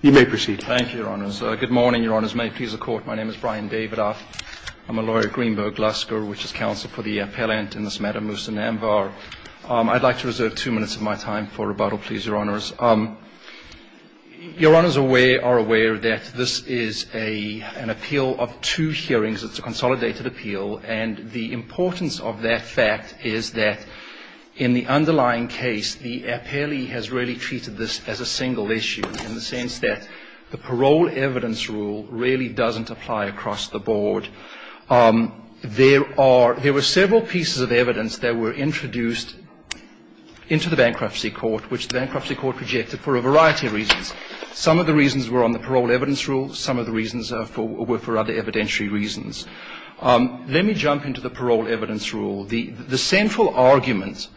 You may proceed. Thank you, Your Honors. Good morning, Your Honors. May it please the Court, my name is Brian Davidoff. I'm a lawyer at Greenberg Lusker, which is counsel for the appellant in this matter, Mousa Namvar. I'd like to reserve two minutes of my time for rebuttal, please, Your Honors. Your Honors are aware that this is an appeal of two hearings. It's a consolidated appeal. And the importance of that fact is that in the underlying case, the appellee has really that the parole evidence rule really doesn't apply across the board. There were several pieces of evidence that were introduced into the Bankruptcy Court, which the Bankruptcy Court rejected for a variety of reasons. Some of the reasons were on the parole evidence rule. Some of the reasons were for other evidentiary reasons. Let me jump into the parole evidence rule. The central argument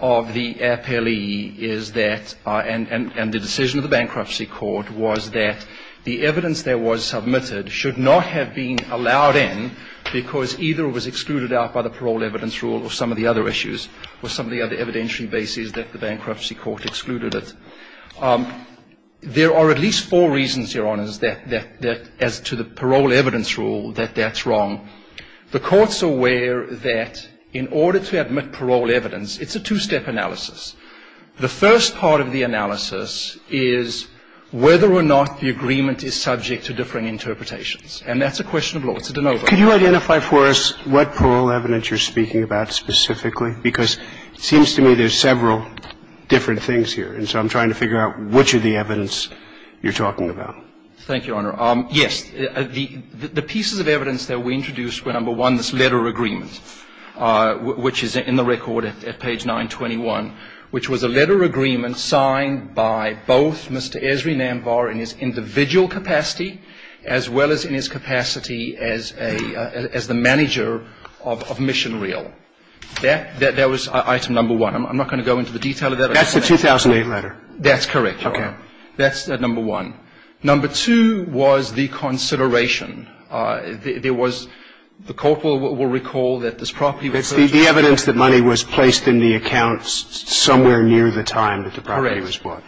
of the appellee is that, and the decision of the Bankruptcy Court, was that the evidence that was submitted should not have been allowed in because either it was excluded out by the parole evidence rule or some of the other issues or some of the other evidentiary bases that the Bankruptcy Court excluded it. There are at least four reasons, Your Honors, that as to the parole evidence rule, that that's wrong. The Court's aware that in order to admit parole evidence, it's a two-step analysis. The first part of the analysis is whether or not the agreement is subject to differing interpretations. And that's a question of law. It's a de novo. Can you identify for us what parole evidence you're speaking about specifically? Because it seems to me there's several different things here. And so I'm trying to figure out which of the evidence you're talking about. Thank you, Your Honor. Yes. The pieces of evidence that we introduced were, number one, this letter agreement, which is in the record at page 921, which was a letter agreement signed by both Mr. Esri Namvar in his individual capacity as well as in his capacity as a – as the manager of Mission Reel. That was item number one. I'm not going to go into the detail of that. That's the 2008 letter. That's correct, Your Honor. Okay. That's number one. Number two was the consideration. There was – the Court will recall that this property was purchased – It's the evidence that money was placed in the account somewhere near the time that the property was bought. Correct.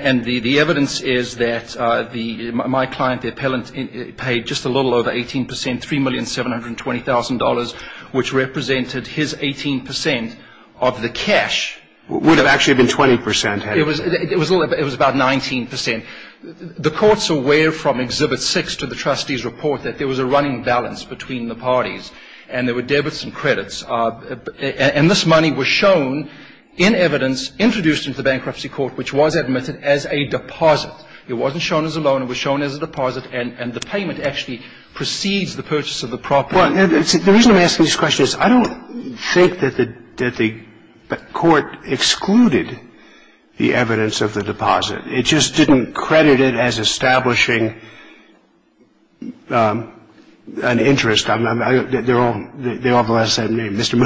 And the evidence is that the – my client, the appellant, paid just a little over 18 percent, $3,720,000, which represented his 18 percent of the cash. Would have actually been 20 percent, hadn't it? It was a little – it was about 19 percent. The Court's aware from Exhibit 6 to the trustee's report that there was a running balance between the parties, and there were debits and credits. And this money was shown in evidence, introduced into the Bankruptcy Court, which was admitted as a deposit. It wasn't shown as a loan. It was shown as a deposit, and the payment actually precedes the purchase of the property. Well, the reason I'm asking this question is I don't think that the – that the Court excluded the evidence of the deposit. It just didn't credit it as establishing an interest. They all have the same name, Mr.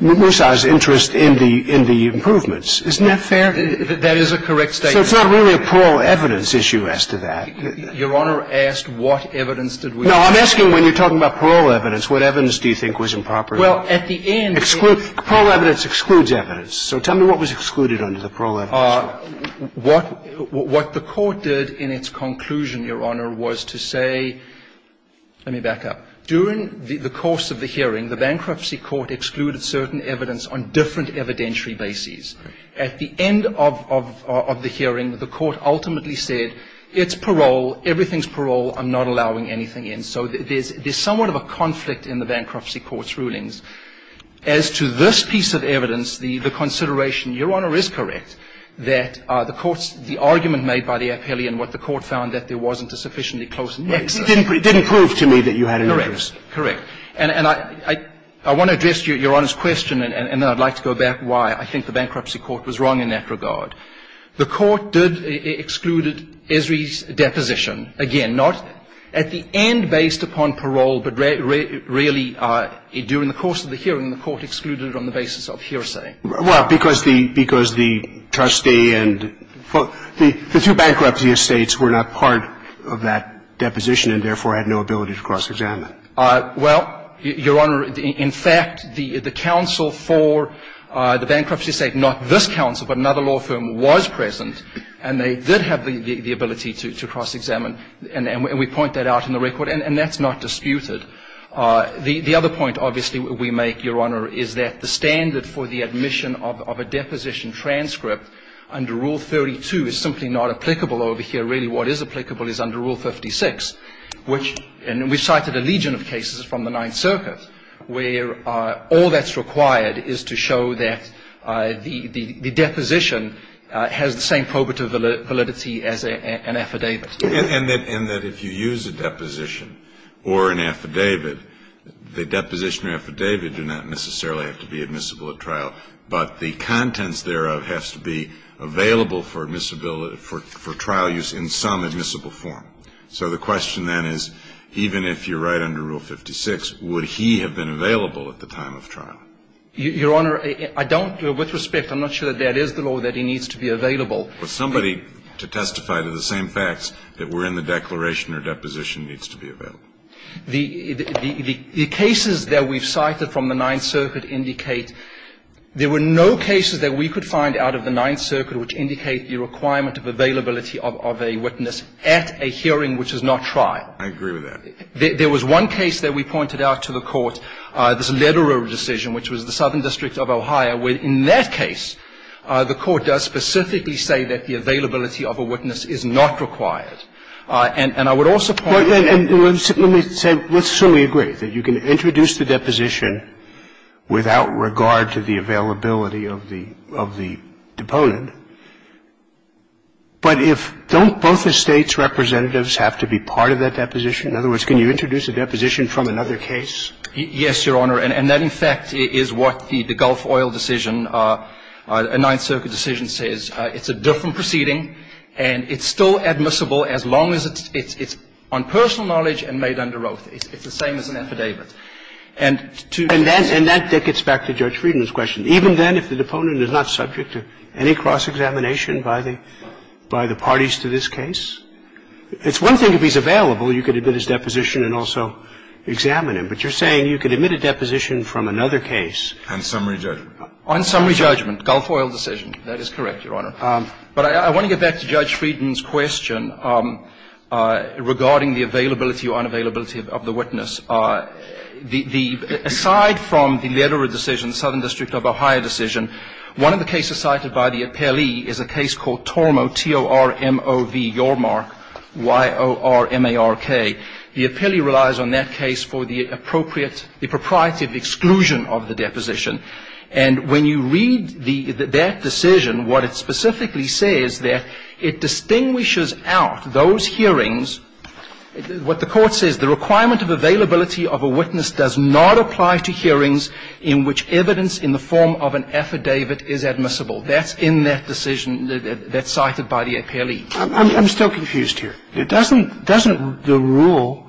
Moussa's interest in the – in the improvements. Isn't that fair? That is a correct statement. So it's not really a parole evidence issue as to that. Your Honor asked what evidence did we exclude. No, I'm asking when you're talking about parole evidence, what evidence do you think was improper? Well, at the end – Parole evidence excludes evidence. So tell me what was excluded under the parole evidence. What the Court did in its conclusion, Your Honor, was to say – let me back up. During the course of the hearing, the Bankruptcy Court excluded certain evidence on different evidentiary bases. At the end of the hearing, the Court ultimately said, it's parole, everything's parole, I'm not allowing anything in. So there's somewhat of a conflict in the Bankruptcy Court's rulings. As to this piece of evidence, the consideration, Your Honor, is correct. That the Court's – the argument made by the appellee and what the Court found that there wasn't a sufficiently close nexus. It didn't prove to me that you had an interest. Correct. And I want to address Your Honor's question, and then I'd like to go back why I think the Bankruptcy Court was wrong in that regard. The Court did – excluded Esri's deposition. Again, not at the end based upon parole, but really during the course of the hearing, the Court excluded it on the basis of hearsay. Well, because the – because the trustee and – the two bankruptcy estates were not part of that deposition and therefore had no ability to cross-examine. Well, Your Honor, in fact, the counsel for the bankruptcy estate, not this counsel, but another law firm was present, and they did have the ability to cross-examine, and we point that out in the record, and that's not disputed. The other point, obviously, we make, Your Honor, is that the standard for the admission of a deposition transcript under Rule 32 is simply not applicable over here. Really, what is applicable is under Rule 56, which – and we cited a legion of cases from the Ninth Circuit where all that's required is to show that the – the deposition has the same probative validity as an affidavit. And that if you use a deposition or an affidavit, the deposition or affidavit do not necessarily have to be admissible at trial, but the contents thereof has to be available for admissibility – for trial use in some admissible form. So the question then is, even if you're right under Rule 56, would he have been available at the time of trial? Your Honor, I don't – with respect, I'm not sure that that is the law, that he needs to be available. Well, somebody to testify to the same facts that were in the declaration or deposition needs to be available. The – the cases that we've cited from the Ninth Circuit indicate there were no cases that we could find out of the Ninth Circuit which indicate the requirement of availability of a witness at a hearing which is not trial. I agree with that. There was one case that we pointed out to the Court, this Lederer decision, which was the Southern District of Ohio, where in that case, the Court does specifically say that the availability of a witness is not required. Let me say, let's assume we agree that you can introduce the deposition without regard to the availability of the – of the deponent, but if – don't both the States' representatives have to be part of that deposition? In other words, can you introduce a deposition from another case? Yes, Your Honor, and that, in fact, is what the – the Gulf Oil decision, a Ninth Circuit decision, says. It's a different proceeding, and it's still admissible as long as it's – it's on personal knowledge and made under oath. It's the same as an affidavit. And to the extent that the – And that gets back to Judge Frieden's question. Even then, if the deponent is not subject to any cross-examination by the – by the parties to this case, it's one thing if he's available, you could admit his deposition and also examine him. But you're saying you could admit a deposition from another case. On summary judgment. On summary judgment. Gulf Oil decision. That is correct, Your Honor. But I want to get back to Judge Frieden's question regarding the availability or unavailability of the witness. The – aside from the letter of decision, Southern District of Ohio decision, one of the cases cited by the appellee is a case called Tormov, T-O-R-M-O-V, your mark, Y-O-R-M-A-R-K. The appellee relies on that case for the appropriate – the propriety of exclusion of the deposition. And when you read the – that decision, what it specifically says that it distinguishes out those hearings – what the Court says, the requirement of availability of a witness does not apply to hearings in which evidence in the form of an affidavit is admissible. That's in that decision that's cited by the appellee. I'm still confused here. Doesn't – doesn't the rule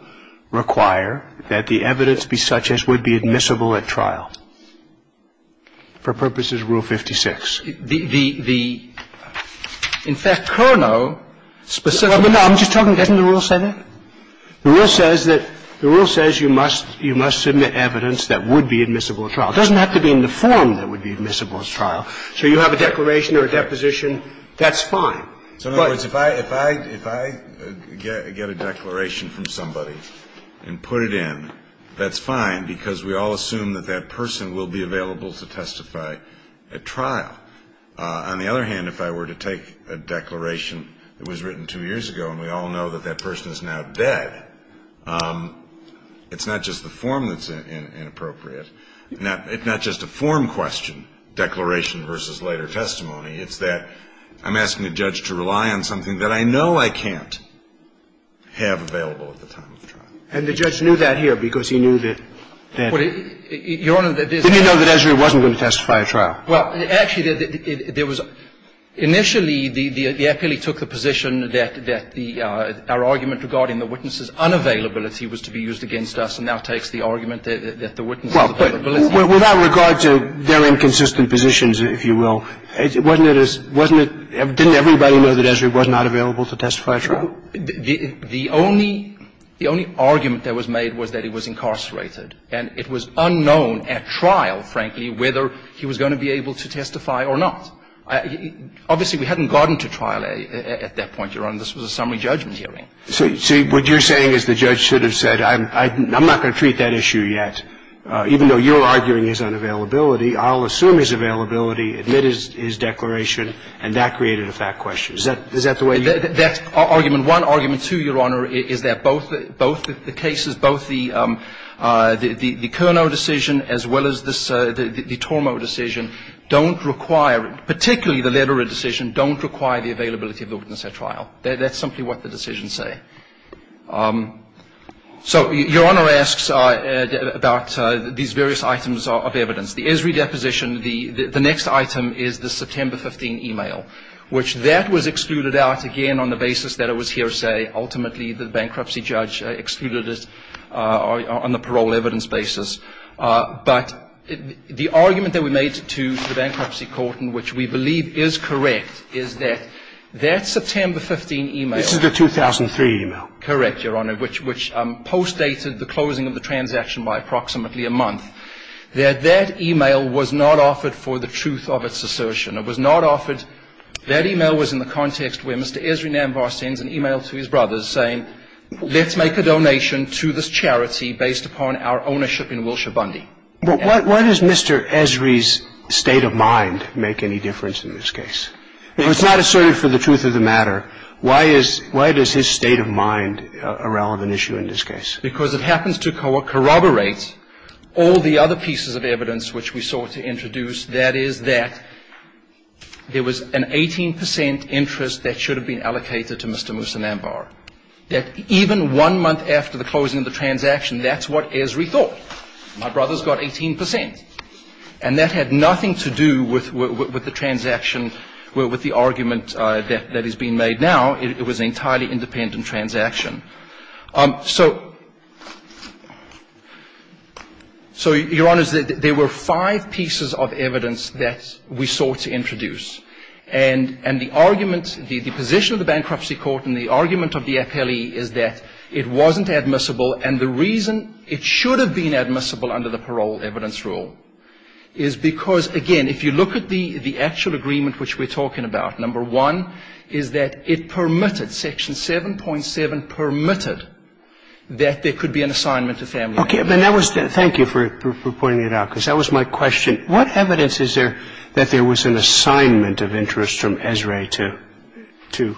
require that the evidence be such as would be admissible at trial? For purposes of Rule 56. The – the – in fact, Curnow specifically – I'm just talking – doesn't the rule say that? The rule says that – the rule says you must – you must submit evidence that would be admissible at trial. It doesn't have to be in the form that would be admissible at trial. So you have a declaration or a deposition, that's fine. But – So in other words, if I – if I get a declaration from somebody and put it in, that's that person will be available to testify at trial. On the other hand, if I were to take a declaration that was written two years ago, and we all know that that person is now dead, it's not just the form that's inappropriate. It's not just a form question, declaration versus later testimony. It's that I'm asking a judge to rely on something that I know I can't have available at the time of trial. And the judge knew that here because he knew that – Well, Your Honor, there's – Didn't he know that Ezra wasn't going to testify at trial? Well, actually, there was – initially, the appellee took the position that the – our argument regarding the witness's unavailability was to be used against us, and now takes the argument that the witness's availability – Well, but without regard to their inconsistent positions, if you will, wasn't it – wasn't it – didn't everybody know that Ezra was not available to testify at trial? The only – the only argument that was made was that he was incarcerated. And it was unknown at trial, frankly, whether he was going to be able to testify or not. Obviously, we hadn't gotten to trial at that point, Your Honor. This was a summary judgment hearing. So what you're saying is the judge should have said, I'm not going to treat that issue yet. Even though you're arguing his unavailability, I'll assume his availability, Is that the way you – That's argument one. Argument two, Your Honor, is that both the cases – both the Cournot decision as well as this – the Tormo decision don't require – particularly the Lederer decision don't require the availability of the witness at trial. That's simply what the decisions say. So Your Honor asks about these various items of evidence. The Esri deposition, the next item is the September 15 email, which that was excluded out, again, on the basis that it was hearsay. Ultimately, the bankruptcy judge excluded it on the parole evidence basis. But the argument that we made to the bankruptcy court in which we believe is correct is that that September 15 email – This is the 2003 email. Correct, Your Honor, which postdated the closing of the transaction by approximately a month. That that email was not offered for the truth of its assertion. It was not offered – that email was in the context where Mr. Esri Nambar sends an email to his brothers saying, let's make a donation to this charity based upon our ownership in Wilshire Bundy. But why does Mr. Esri's state of mind make any difference in this case? It was not asserted for the truth of the matter. Why is – why does his state of mind a relevant issue in this case? Because it happens to corroborate all the other pieces of evidence which we sought to introduce, that is, that there was an 18 percent interest that should have been allocated to Mr. Musa Nambar, that even one month after the closing of the transaction, that's what Esri thought. My brothers got 18 percent. And that had nothing to do with the transaction, with the argument that is being made now. It was an entirely independent transaction. So, Your Honor, there were five pieces of evidence that we sought to introduce. And the argument – the position of the Bankruptcy Court and the argument of the FLE is that it wasn't admissible, and the reason it should have been admissible under the Parole Evidence Rule is because, again, if you look at the actual agreement which we're talking about, number one is that it permitted, Section 7.7, permitted the use of the bankruptcy court, and number two is that it permitted that there could be an assignment to family members. And that was – thank you for pointing it out, because that was my question. What evidence is there that there was an assignment of interest from Esri to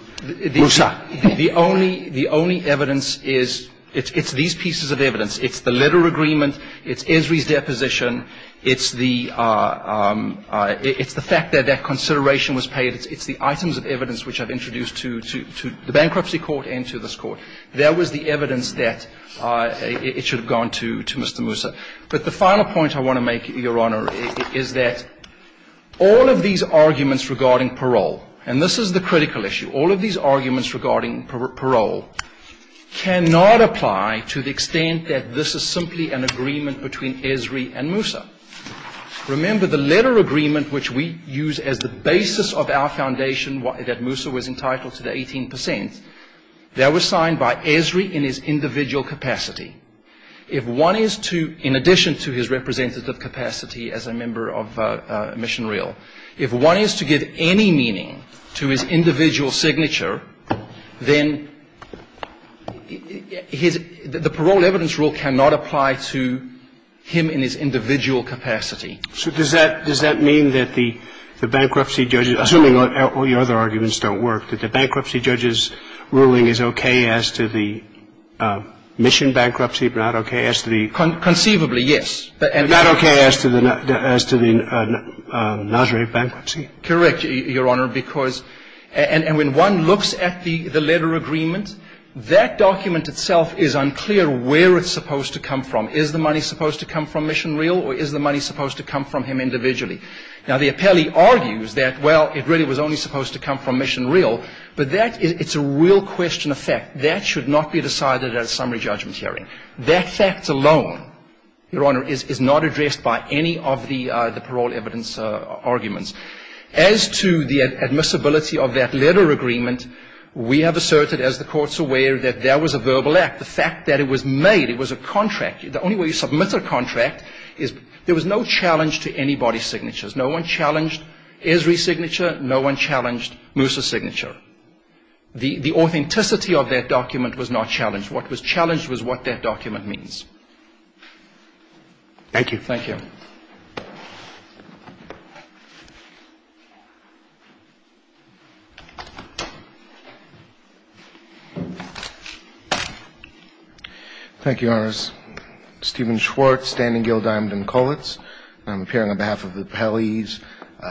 Musa? The only evidence is – it's these pieces of evidence. It's the letter of agreement. It's Esri's deposition. It's the fact that that consideration was paid. It's the items of evidence which I've introduced to the Bankruptcy Court and to this Court. There was the evidence that it should have gone to Mr. Musa. But the final point I want to make, Your Honor, is that all of these arguments regarding parole – and this is the critical issue – all of these arguments regarding parole cannot apply to the extent that this is simply an agreement between Esri and Musa. Remember, the letter of agreement which we use as the basis of our foundation that Musa was entitled to the 18 percent, that was signed by Esri in his individual capacity. If one is to – in addition to his representative capacity as a member of Mission Real – if one is to give any meaning to his individual signature, then his – the parole evidence rule cannot apply to him in his individual capacity. So does that – does that mean that the bankruptcy judge – assuming all the other arguments don't work – that the bankruptcy judge's ruling is okay as to the mission bankruptcy, but not okay as to the – Conceivably, yes. But – But not okay as to the – as to the NOSRA bankruptcy? Correct, Your Honor, because – and when one looks at the letter of agreement, that document itself is unclear where it's supposed to come from. Is the money supposed to come from Mission Real or is the money supposed to come from him individually? Now, the appellee argues that, well, it really was only supposed to come from Mission Real, but that – it's a real question of fact. That should not be decided at a summary judgment hearing. That fact alone, Your Honor, is not addressed by any of the parole evidence arguments. As to the admissibility of that letter of agreement, we have asserted, as the Court's aware, that that was a verbal act. The fact that it was made – it was a contract. The only way you submit a contract is – there was no challenge to anybody's signatures. No one challenged Esri's signature. No one challenged Moosa's signature. The authenticity of that document was not challenged. What was challenged was what that document means. Thank you. Thank you. Thank you, Your Honors. Stephen Schwartz, Standing Guild, Diamond and Kollitz. I'm appearing on behalf of the appellees,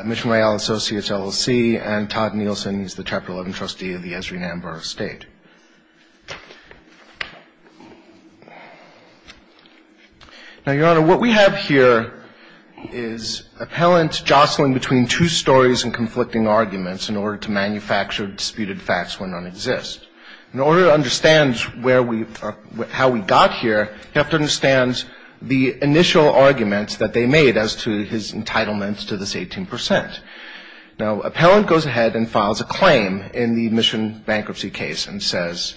Mission Real Associates, LLC, and Todd Nielsen. He's the Chapter 11 trustee of the Esri-Nanborough State. Now, Your Honor, what we have here is appellants jostling between two stories and conflicting arguments in order to manufacture disputed facts when none exist. In order to understand where we – how we got here, you have to understand the initial arguments that they made as to his entitlements to this 18 percent. Now, appellant goes ahead and files a claim in the Mission bankruptcy case and says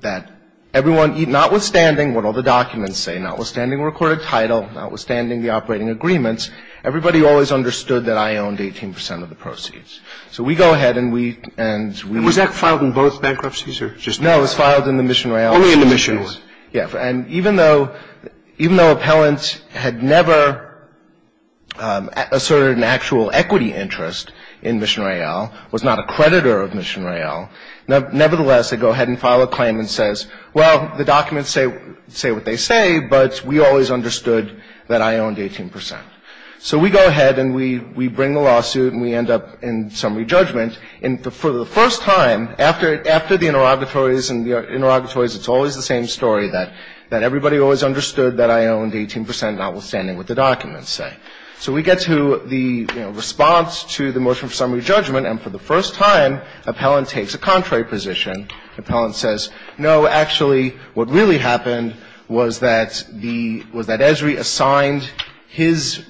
that everyone – notwithstanding what all the documents say, notwithstanding the recorded title, notwithstanding the operating agreements, everybody always understood that I owned 18 percent of the proceeds. So we go ahead and we – and we – Is that filed in both bankruptcies or just – No, it's filed in the Mission Real – Only in the Mission. Yeah. And even though – even though appellant had never asserted an actual equity interest in Mission Real, was not a creditor of Mission Real, nevertheless, they go ahead and file a claim and says, well, the documents say – say what they say, but we always understood that I owned 18 percent. So we go ahead and we – we bring the lawsuit and we end up in summary judgment. And for the first time, after – after the interrogatories and the interrogatories, it's always the same story, that – that everybody always understood that I owned 18 percent, notwithstanding what the documents say. So we get to the, you know, response to the motion for summary judgment, and for the first time, appellant takes a contrary position. Appellant says, no, actually, what really happened was that the – was that Esri assigned his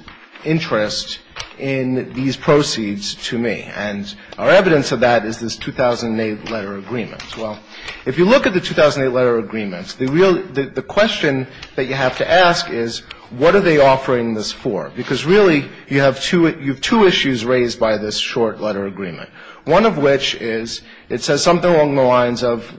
interest in these proceeds to me. And our evidence of that is this 2008 letter of agreement. Well, if you look at the 2008 letter of agreement, the real – the question that you have to ask is, what are they offering this for? Because really, you have two – you have two issues raised by this short letter agreement. One of which is, it says something along the lines of,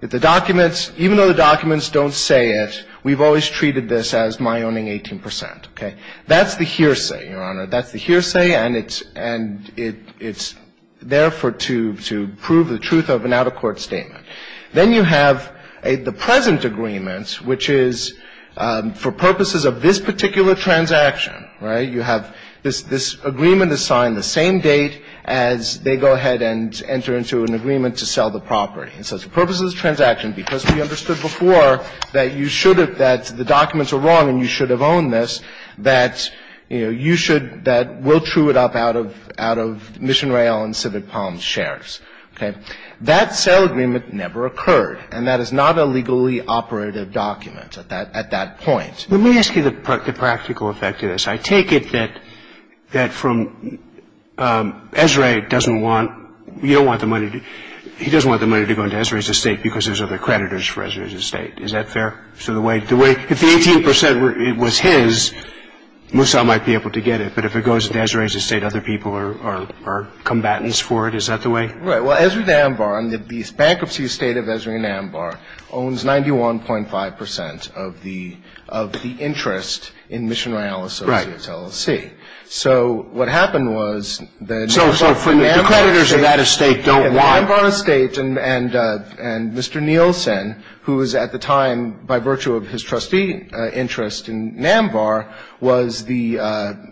the documents – even though the documents don't say it, we've always treated this as my owning 18 percent. Okay? That's the hearsay, Your Honor. That's the hearsay, and it's – and it's there for – to prove the truth of an out-of-court statement. Then you have a – the present agreement, which is, for purposes of this particular transaction, right, you have this – this agreement assigned the same date as they go ahead and enter into an agreement to sell the property. And so for purposes of this transaction, because we understood before that you should have – that the documents are wrong and you should have owned this, that, you know, you should – that – we'll true it up out of – out of Mission Royale and Civic Palms shares. Okay? That sale agreement never occurred, and that is not a legally operative document at that – at that point. Let me ask you the practical effect of this. I take it that – that from – Esrae doesn't want – you don't want the money to – he doesn't want the money to go into Esrae's estate because there's other creditors for Esrae's estate. Is that fair? So the way – the way – if the 18 percent were – it was his, Musa might be able to get it. But if it goes into Esrae's estate, other people are – are combatants for it. Is that the way? Right. Well, Esrae Nambar, the bankruptcy estate of Esrae Nambar, owns 91.5 percent of the – of the interest in Mission Royale Associates LLC. Right. So what happened was that – So – so for the creditors of that estate don't want – by virtue of his trustee interest in Nambar was the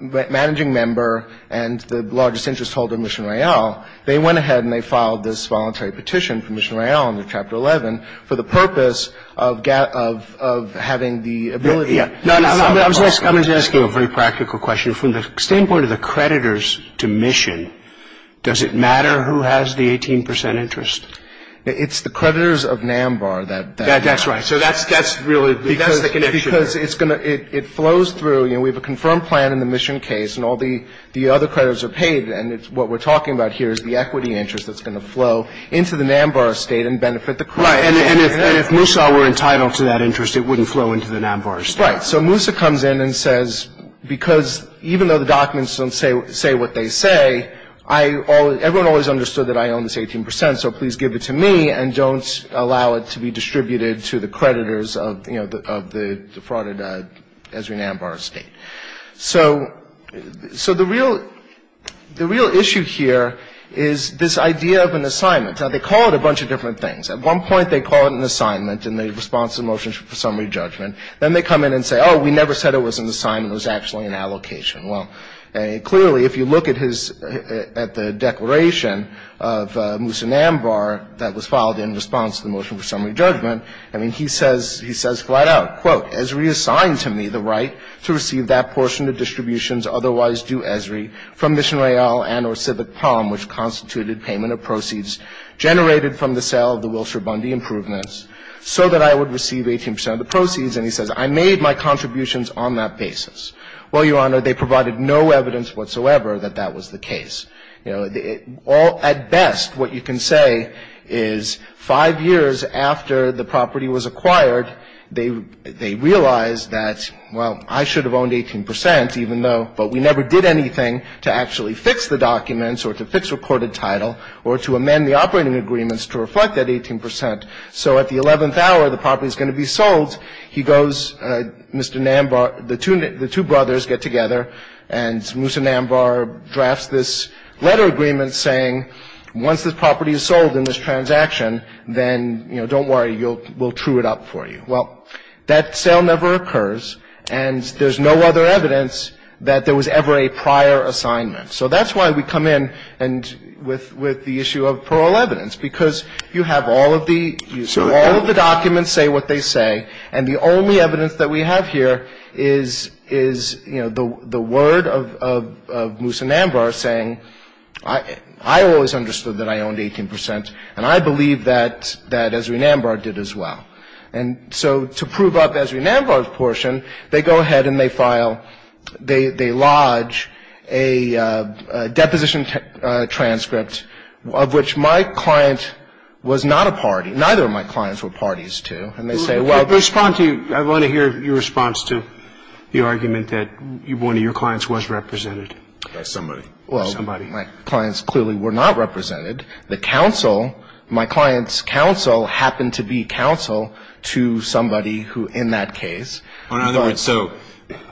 managing member and the largest interest holder of Mission Royale, they went ahead and they filed this voluntary petition for Mission Royale under Chapter 11 for the purpose of – of having the ability to sell Nambar. I'm just asking a very practical question. From the standpoint of the creditors to Mission, does it matter who has the 18 percent interest? It's the creditors of Nambar that – That's right. So that's – that's really – that's the connection. Because it's going to – it flows through. You know, we have a confirmed plan in the Mission case and all the – the other creditors are paid. And what we're talking about here is the equity interest that's going to flow into the Nambar estate and benefit the creditors. Right. And if – and if Musa were entitled to that interest, it wouldn't flow into the Nambar estate. Right. So Musa comes in and says, because even though the documents don't say – say what they say, I – everyone always understood that I own this 18 percent, so please give it to me and don't allow it to be distributed to the creditors of, you know, of the defrauded Esri Nambar estate. So – so the real – the real issue here is this idea of an assignment. Now, they call it a bunch of different things. At one point, they call it an assignment and they respond to the motion for summary judgment. Then they come in and say, oh, we never said it was an assignment, it was actually an allocation. Well, clearly, if you look at his – at the declaration of Musa Nambar that was filed in response to the motion for summary judgment, I mean, he says – he says quite out, quote, Esri assigned to me the right to receive that portion of distributions otherwise due Esri from Mission Royale and or Civic Prom, which constituted payment of proceeds generated from the sale of the Wilshire Bundy improvements so that I would receive 18 percent of the proceeds. And he says, I made my contributions on that basis. Well, Your Honor, they provided no evidence whatsoever that that was the case. You know, all – at best, what you can say is five years after the property was acquired, they – they realized that, well, I should have owned 18 percent even though – but we never did anything to actually fix the documents or to fix recorded title or to amend the operating agreements to reflect that 18 percent. So at the 11th hour, the property is going to be sold. He goes, Mr. Nambar – the two – the two brothers get together and Musa Nambar drafts this letter agreement saying once this property is sold in this transaction, then, you know, don't worry, we'll true it up for you. Well, that sale never occurs and there's no other evidence that there was ever a prior assignment. So that's why we come in and with – with the issue of parole evidence, because you have all of the – all of the documents say what they say and the only evidence that we have here is – is, you know, the – the word of – of Musa Nambar saying I – I always understood that I owned 18 percent and I believe that – that Ezri Nambar did as well. And so to prove up Ezri Nambar's portion, they go ahead and they file – they – they go ahead and they file a complaint. And they say, well, my client's counsel was not a party. Neither of my clients were parties to. And they say, well – I want to hear your response to the argument that one of your clients was represented by somebody. Well, my clients clearly were not represented. The counsel – my client's counsel happened to be counsel to somebody who in that case – In other words, so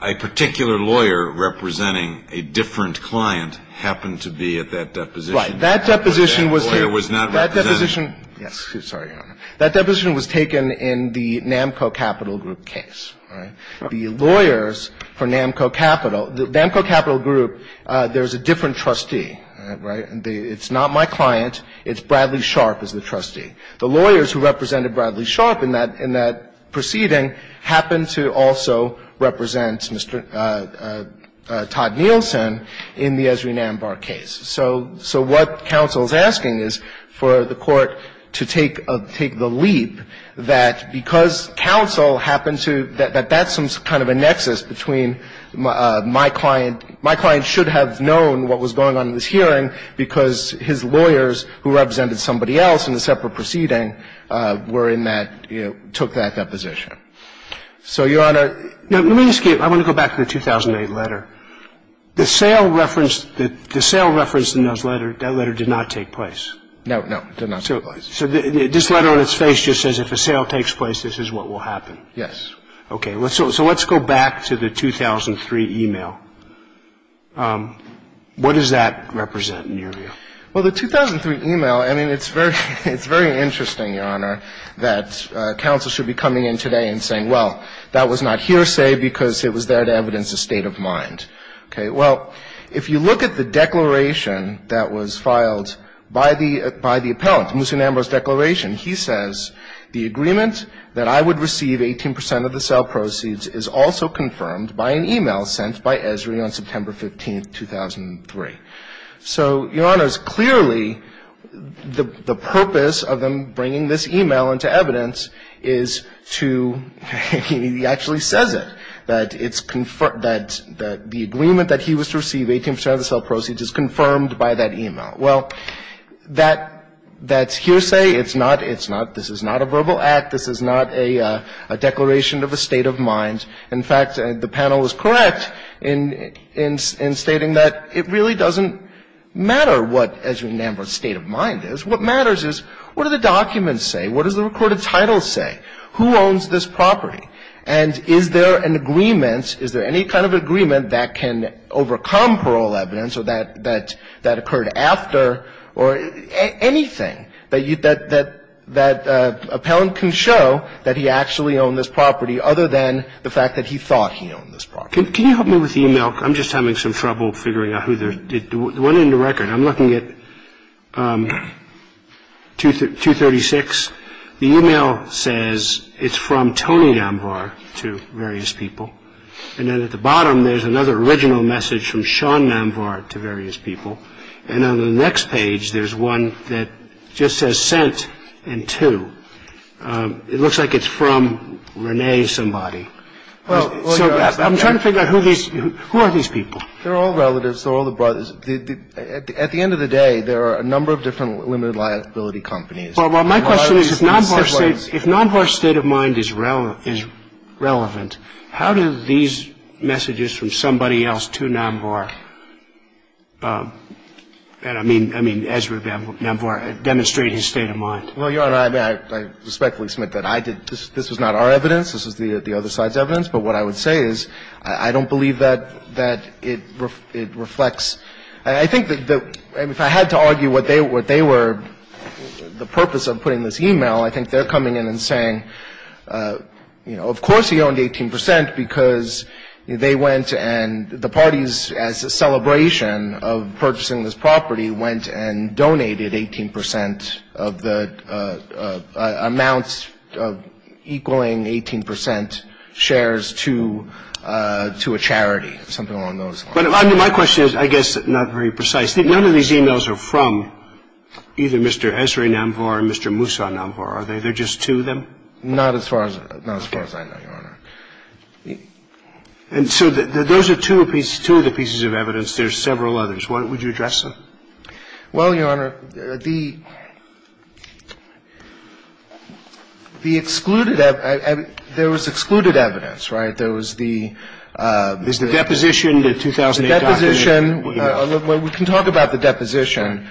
a particular lawyer representing a different client happened to be at that deposition. Right. That deposition was here. But that lawyer was not represented. That deposition – yes. Sorry, Your Honor. That deposition was taken in the NAMCO Capital Group case. All right. The lawyers for NAMCO Capital – the NAMCO Capital Group, there's a different trustee, right. It's not my client. It's Bradley Sharp as the trustee. The lawyers who represented Bradley Sharp in that – in that proceeding happened to also represent Mr. Todd Nielsen in the Ezrin Ambar case. So – so what counsel is asking is for the court to take a – take the leap that because counsel happened to – that that's some kind of a nexus between my client – my client should have known what was going on in this hearing because his lawyers who represented somebody else in the separate proceeding were in that – took that deposition. So, Your Honor – Now, let me ask you – I want to go back to the 2008 letter. The sale reference – the sale reference in those letters – that letter did not take place. No, no. It did not take place. So this letter on its face just says if a sale takes place, this is what will happen. Yes. Okay. So let's go back to the 2003 email. What does that represent in your view? Well, the 2003 email – I mean, it's very – it's very interesting, Your Honor, that counsel should be coming in today and saying, well, that was not hearsay because it was there to evidence a state of mind. Okay. Well, if you look at the declaration that was filed by the – by the appellant, Musun Ambar's declaration, he says the agreement that I would receive 18 percent of the sale proceeds is also confirmed by an email sent by Ezrin on September 15, 2003. So, Your Honor, it's clearly the purpose of them bringing this email into evidence is to – he actually says it, that it's – that the agreement that he was to receive 18 percent of the sale proceeds is confirmed by that email. Well, that's hearsay. It's not – it's not – this is not a verbal act. This is not a declaration of a state of mind. In fact, the panel is correct in – in stating that it really doesn't matter what Ezrin Ambar's state of mind is. What matters is what do the documents say? What does the recorded title say? Who owns this property? And is there an agreement – is there any kind of agreement that can overcome parole evidence or that – that occurred after or anything that you – that – that appellant can show that he actually owned this property other than the fact that he thought he owned this property? Can you help me with the email? I'm just having some trouble figuring out who the – the one in the record. I'm looking at 236. The email says it's from Tony Ambar to various people. And then at the bottom, there's another original message from Sean Ambar to various people. And on the next page, there's one that just says sent and to. It looks like it's from Renee somebody. So I'm trying to figure out who these – who are these people? They're all relatives. They're all the brothers. At the end of the day, there are a number of different limited liability companies. Well, my question is if Ambar's state – if Ambar's state of mind is relevant, how do these – I mean, Ezra and Ambar demonstrate his state of mind? Well, Your Honor, I respectfully submit that I did – this was not our evidence. This was the other side's evidence. But what I would say is I don't believe that – that it reflects – I think that if I had to argue what they were – the purpose of putting this email, I think they're coming in and saying, you know, of course he owned 18 percent because they went and – the parties, as a celebration of purchasing this property, went and donated 18 percent of the – amounts equaling 18 percent shares to – to a charity, something along those lines. But my question is, I guess, not very precise. None of these emails are from either Mr. Ezra Namvor or Mr. Musa Namvor, are they? They're just two of them? Not as far as – not as far as I know, Your Honor. And so those are two of the pieces of evidence. There's several others. Would you address them? Well, Your Honor, the – the excluded – there was excluded evidence, right? There was the – There's the deposition, the 2008 document. The deposition. We can talk about the deposition.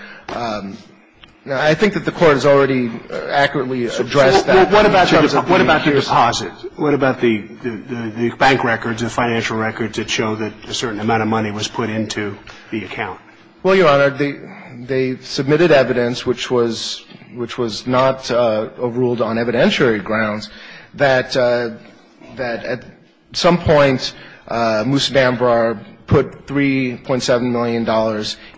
I think that the Court has already accurately addressed that. So what about – What about the deposit? What about the – the bank records, the financial records that show that a certain amount of money was put into the account? Well, Your Honor, they – they submitted evidence which was – which was not ruled on evidentiary grounds that – that at some point Musa Namvor put $3.7 million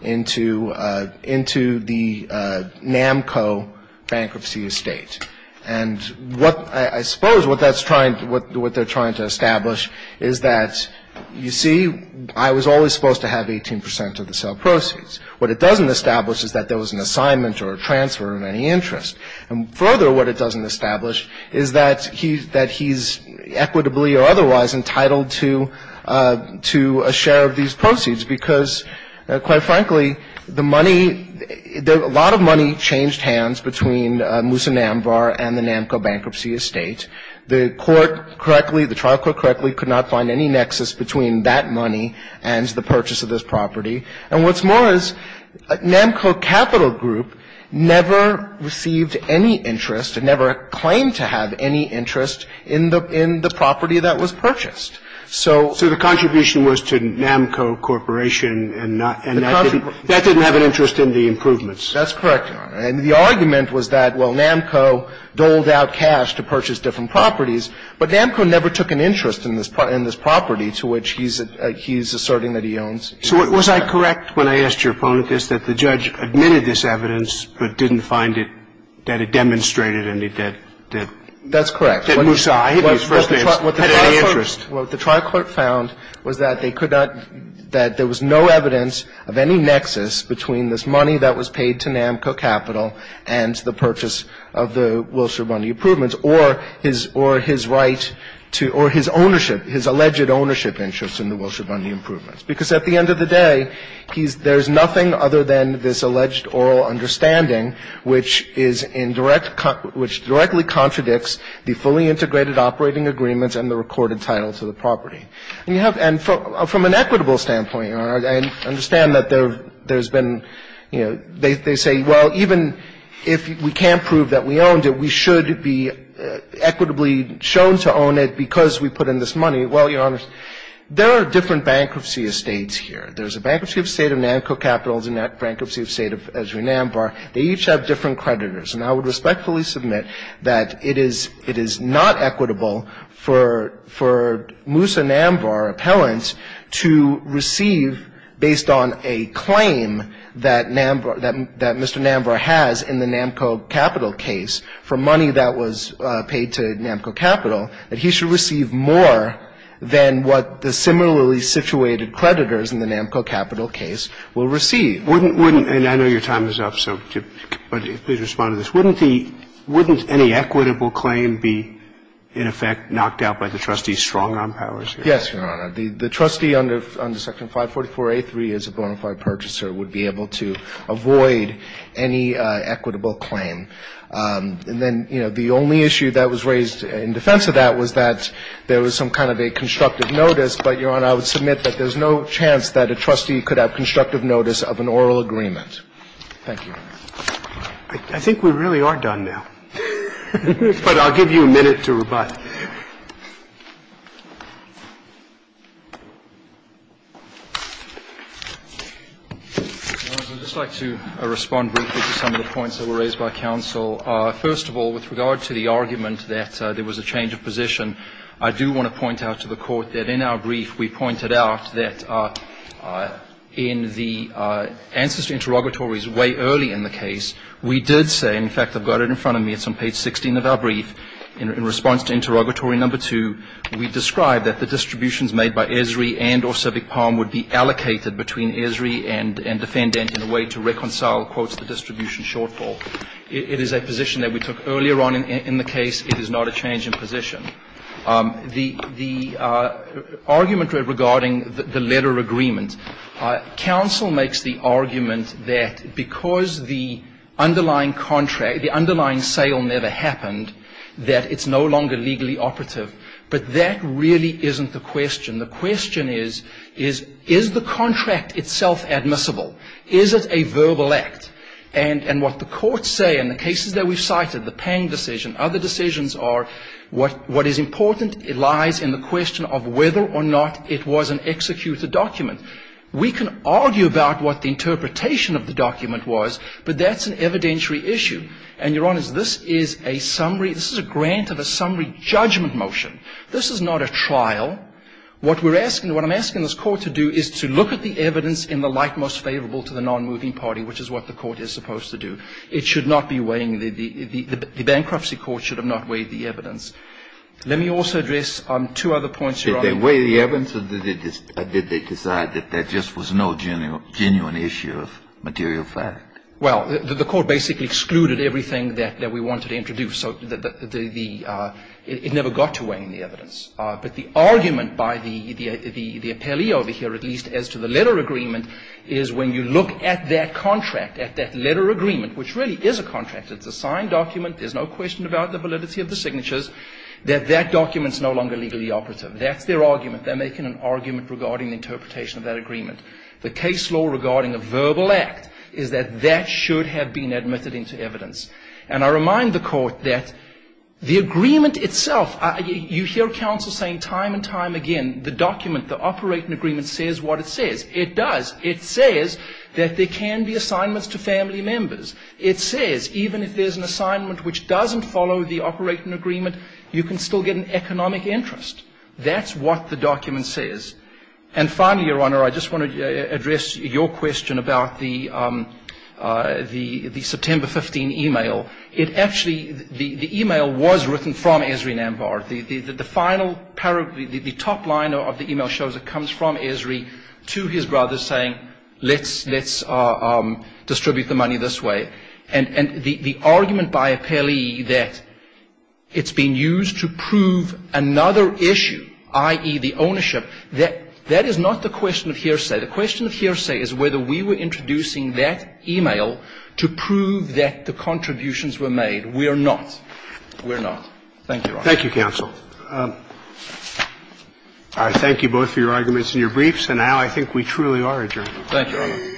into – into the Namco Bankruptcy Estate. And what – I suppose what that's trying – what – what they're trying to establish is that, you see, I was always supposed to have 18 percent of the sale proceeds. What it doesn't establish is that there was an assignment or a transfer of any interest. And further, what it doesn't establish is that he – that he's equitably or otherwise entitled to – to a share of these proceeds because, quite frankly, the money – a lot of money changed hands between Musa Namvor and the Namco Bankruptcy Estate. The Court correctly – the trial court correctly could not find any nexus between that money and the purchase of this property. And what's more is Namco Capital Group never received any interest and never claimed to have any interest in the – in the property that was purchased. So – So the contribution was to Namco Corporation and not – and that didn't – that didn't have an interest in the improvements. That's correct, Your Honor. And the argument was that, well, Namco doled out cash to purchase different properties, but Namco never took an interest in this – in this property to which he's – he's asserting that he owns. So was I correct when I asked your opponent this, that the judge admitted this evidence but didn't find it – that it demonstrated any – that – that – That's correct. That Musa, I hit his first hand, had any interest. What the trial court found was that they could not – that there was no evidence of any nexus between this money that was paid to Namco Capital and the purchase of the Wilshire Bundy improvements or his – or his right to – or his ownership, his alleged ownership interest in the Wilshire Bundy improvements. Because at the end of the day, he's – there's nothing other than this alleged oral understanding which is in direct – which directly contradicts the fully integrated operating agreements and the recorded title to the property. And you have – and from an equitable standpoint, Your Honor, I understand that there's been, you know, they say, well, even if we can't prove that we owned it, we should be equitably shown to own it because we put in this money. Well, Your Honor, there are different bankruptcy estates here. There's a bankruptcy estate of Namco Capital. There's a bankruptcy estate of Esri Nambar. They each have different creditors. And I would respectfully submit that it is – it is not equitable for – for Musa Nambar, appellant, to receive, based on a claim that Nambar – that Mr. Nambar has in the Namco Capital case for money that was paid to Namco Capital, that he should receive more than what the similarly situated creditors in the Namco Capital case will receive. Wouldn't – and I know your time is up, so please respond to this. Wouldn't the – wouldn't any equitable claim be, in effect, knocked out by the trustee's strong-arm powers here? Yes, Your Honor. The trustee under – under Section 544A3 as a bona fide purchaser would be able to avoid any equitable claim. And then, you know, the only issue that was raised in defense of that was that there was some kind of a constructive notice, but, Your Honor, I would submit that there's no chance that a trustee could have constructive notice of an oral agreement. Thank you. But I'll give you a minute to rebut. Okay. Your Honor, I'd just like to respond briefly to some of the points that were raised by counsel. First of all, with regard to the argument that there was a change of position, I do want to point out to the Court that in our brief, we pointed out that in the answers to interrogatories way early in the case, we did say – in fact, I've got it in front of me. It's on page 16 of our brief. In response to interrogatory number two, we described that the distributions made by Esri and or Civic Palm would be allocated between Esri and defendant in a way to reconcile, quote, the distribution shortfall. It is a position that we took earlier on in the case. It is not a change in position. The argument regarding the letter agreement, counsel makes the argument that because the underlying contract, the underlying sale never happened, that it's no longer legally operative. But that really isn't the question. The question is, is the contract itself admissible? Is it a verbal act? And what the courts say in the cases that we've cited, the Pang decision, other decisions are what is important lies in the question of whether or not it was an executed document. We can argue about what the interpretation of the document was, but that's an evidentiary issue. And, Your Honor, this is a summary – this is a grant of a summary judgment motion. This is not a trial. What we're asking – what I'm asking this Court to do is to look at the evidence in the light most favorable to the nonmoving party, which is what the Court is supposed to do. It should not be weighing the – the bankruptcy court should have not weighed the evidence. Let me also address two other points, Your Honor. Did they weigh the evidence or did they decide that that just was no genuine issue of material fact? Well, the Court basically excluded everything that we wanted to introduce. So the – it never got to weighing the evidence. But the argument by the appellee over here, at least as to the letter agreement, is when you look at that contract, at that letter agreement, which really is a contract, it's a signed document, there's no question about the validity of the signatures, that that document's no longer legally operative. That's their argument. They're making an argument regarding the interpretation of that agreement. The case law regarding a verbal act is that that should have been admitted into evidence. And I remind the Court that the agreement itself – you hear counsel saying time and time again, the document, the operating agreement, says what it says. It does. It says that there can be assignments to family members. It says even if there's an assignment which doesn't follow the operating agreement, you can still get an economic interest. That's what the document says. And finally, Your Honor, I just want to address your question about the September 15 e-mail. It actually – the e-mail was written from Esri Nambar. The final – the top line of the e-mail shows it comes from Esri to his brother saying let's distribute the money this way. And the argument by appellee that it's been used to prove another issue, i.e., the ownership, that is not the question of hearsay. The question of hearsay is whether we were introducing that e-mail to prove that the contributions were made. We're not. We're not. Thank you, Your Honor. Thank you, counsel. I thank you both for your arguments and your briefs. And now I think we truly are adjourned. Thank you, Your Honor.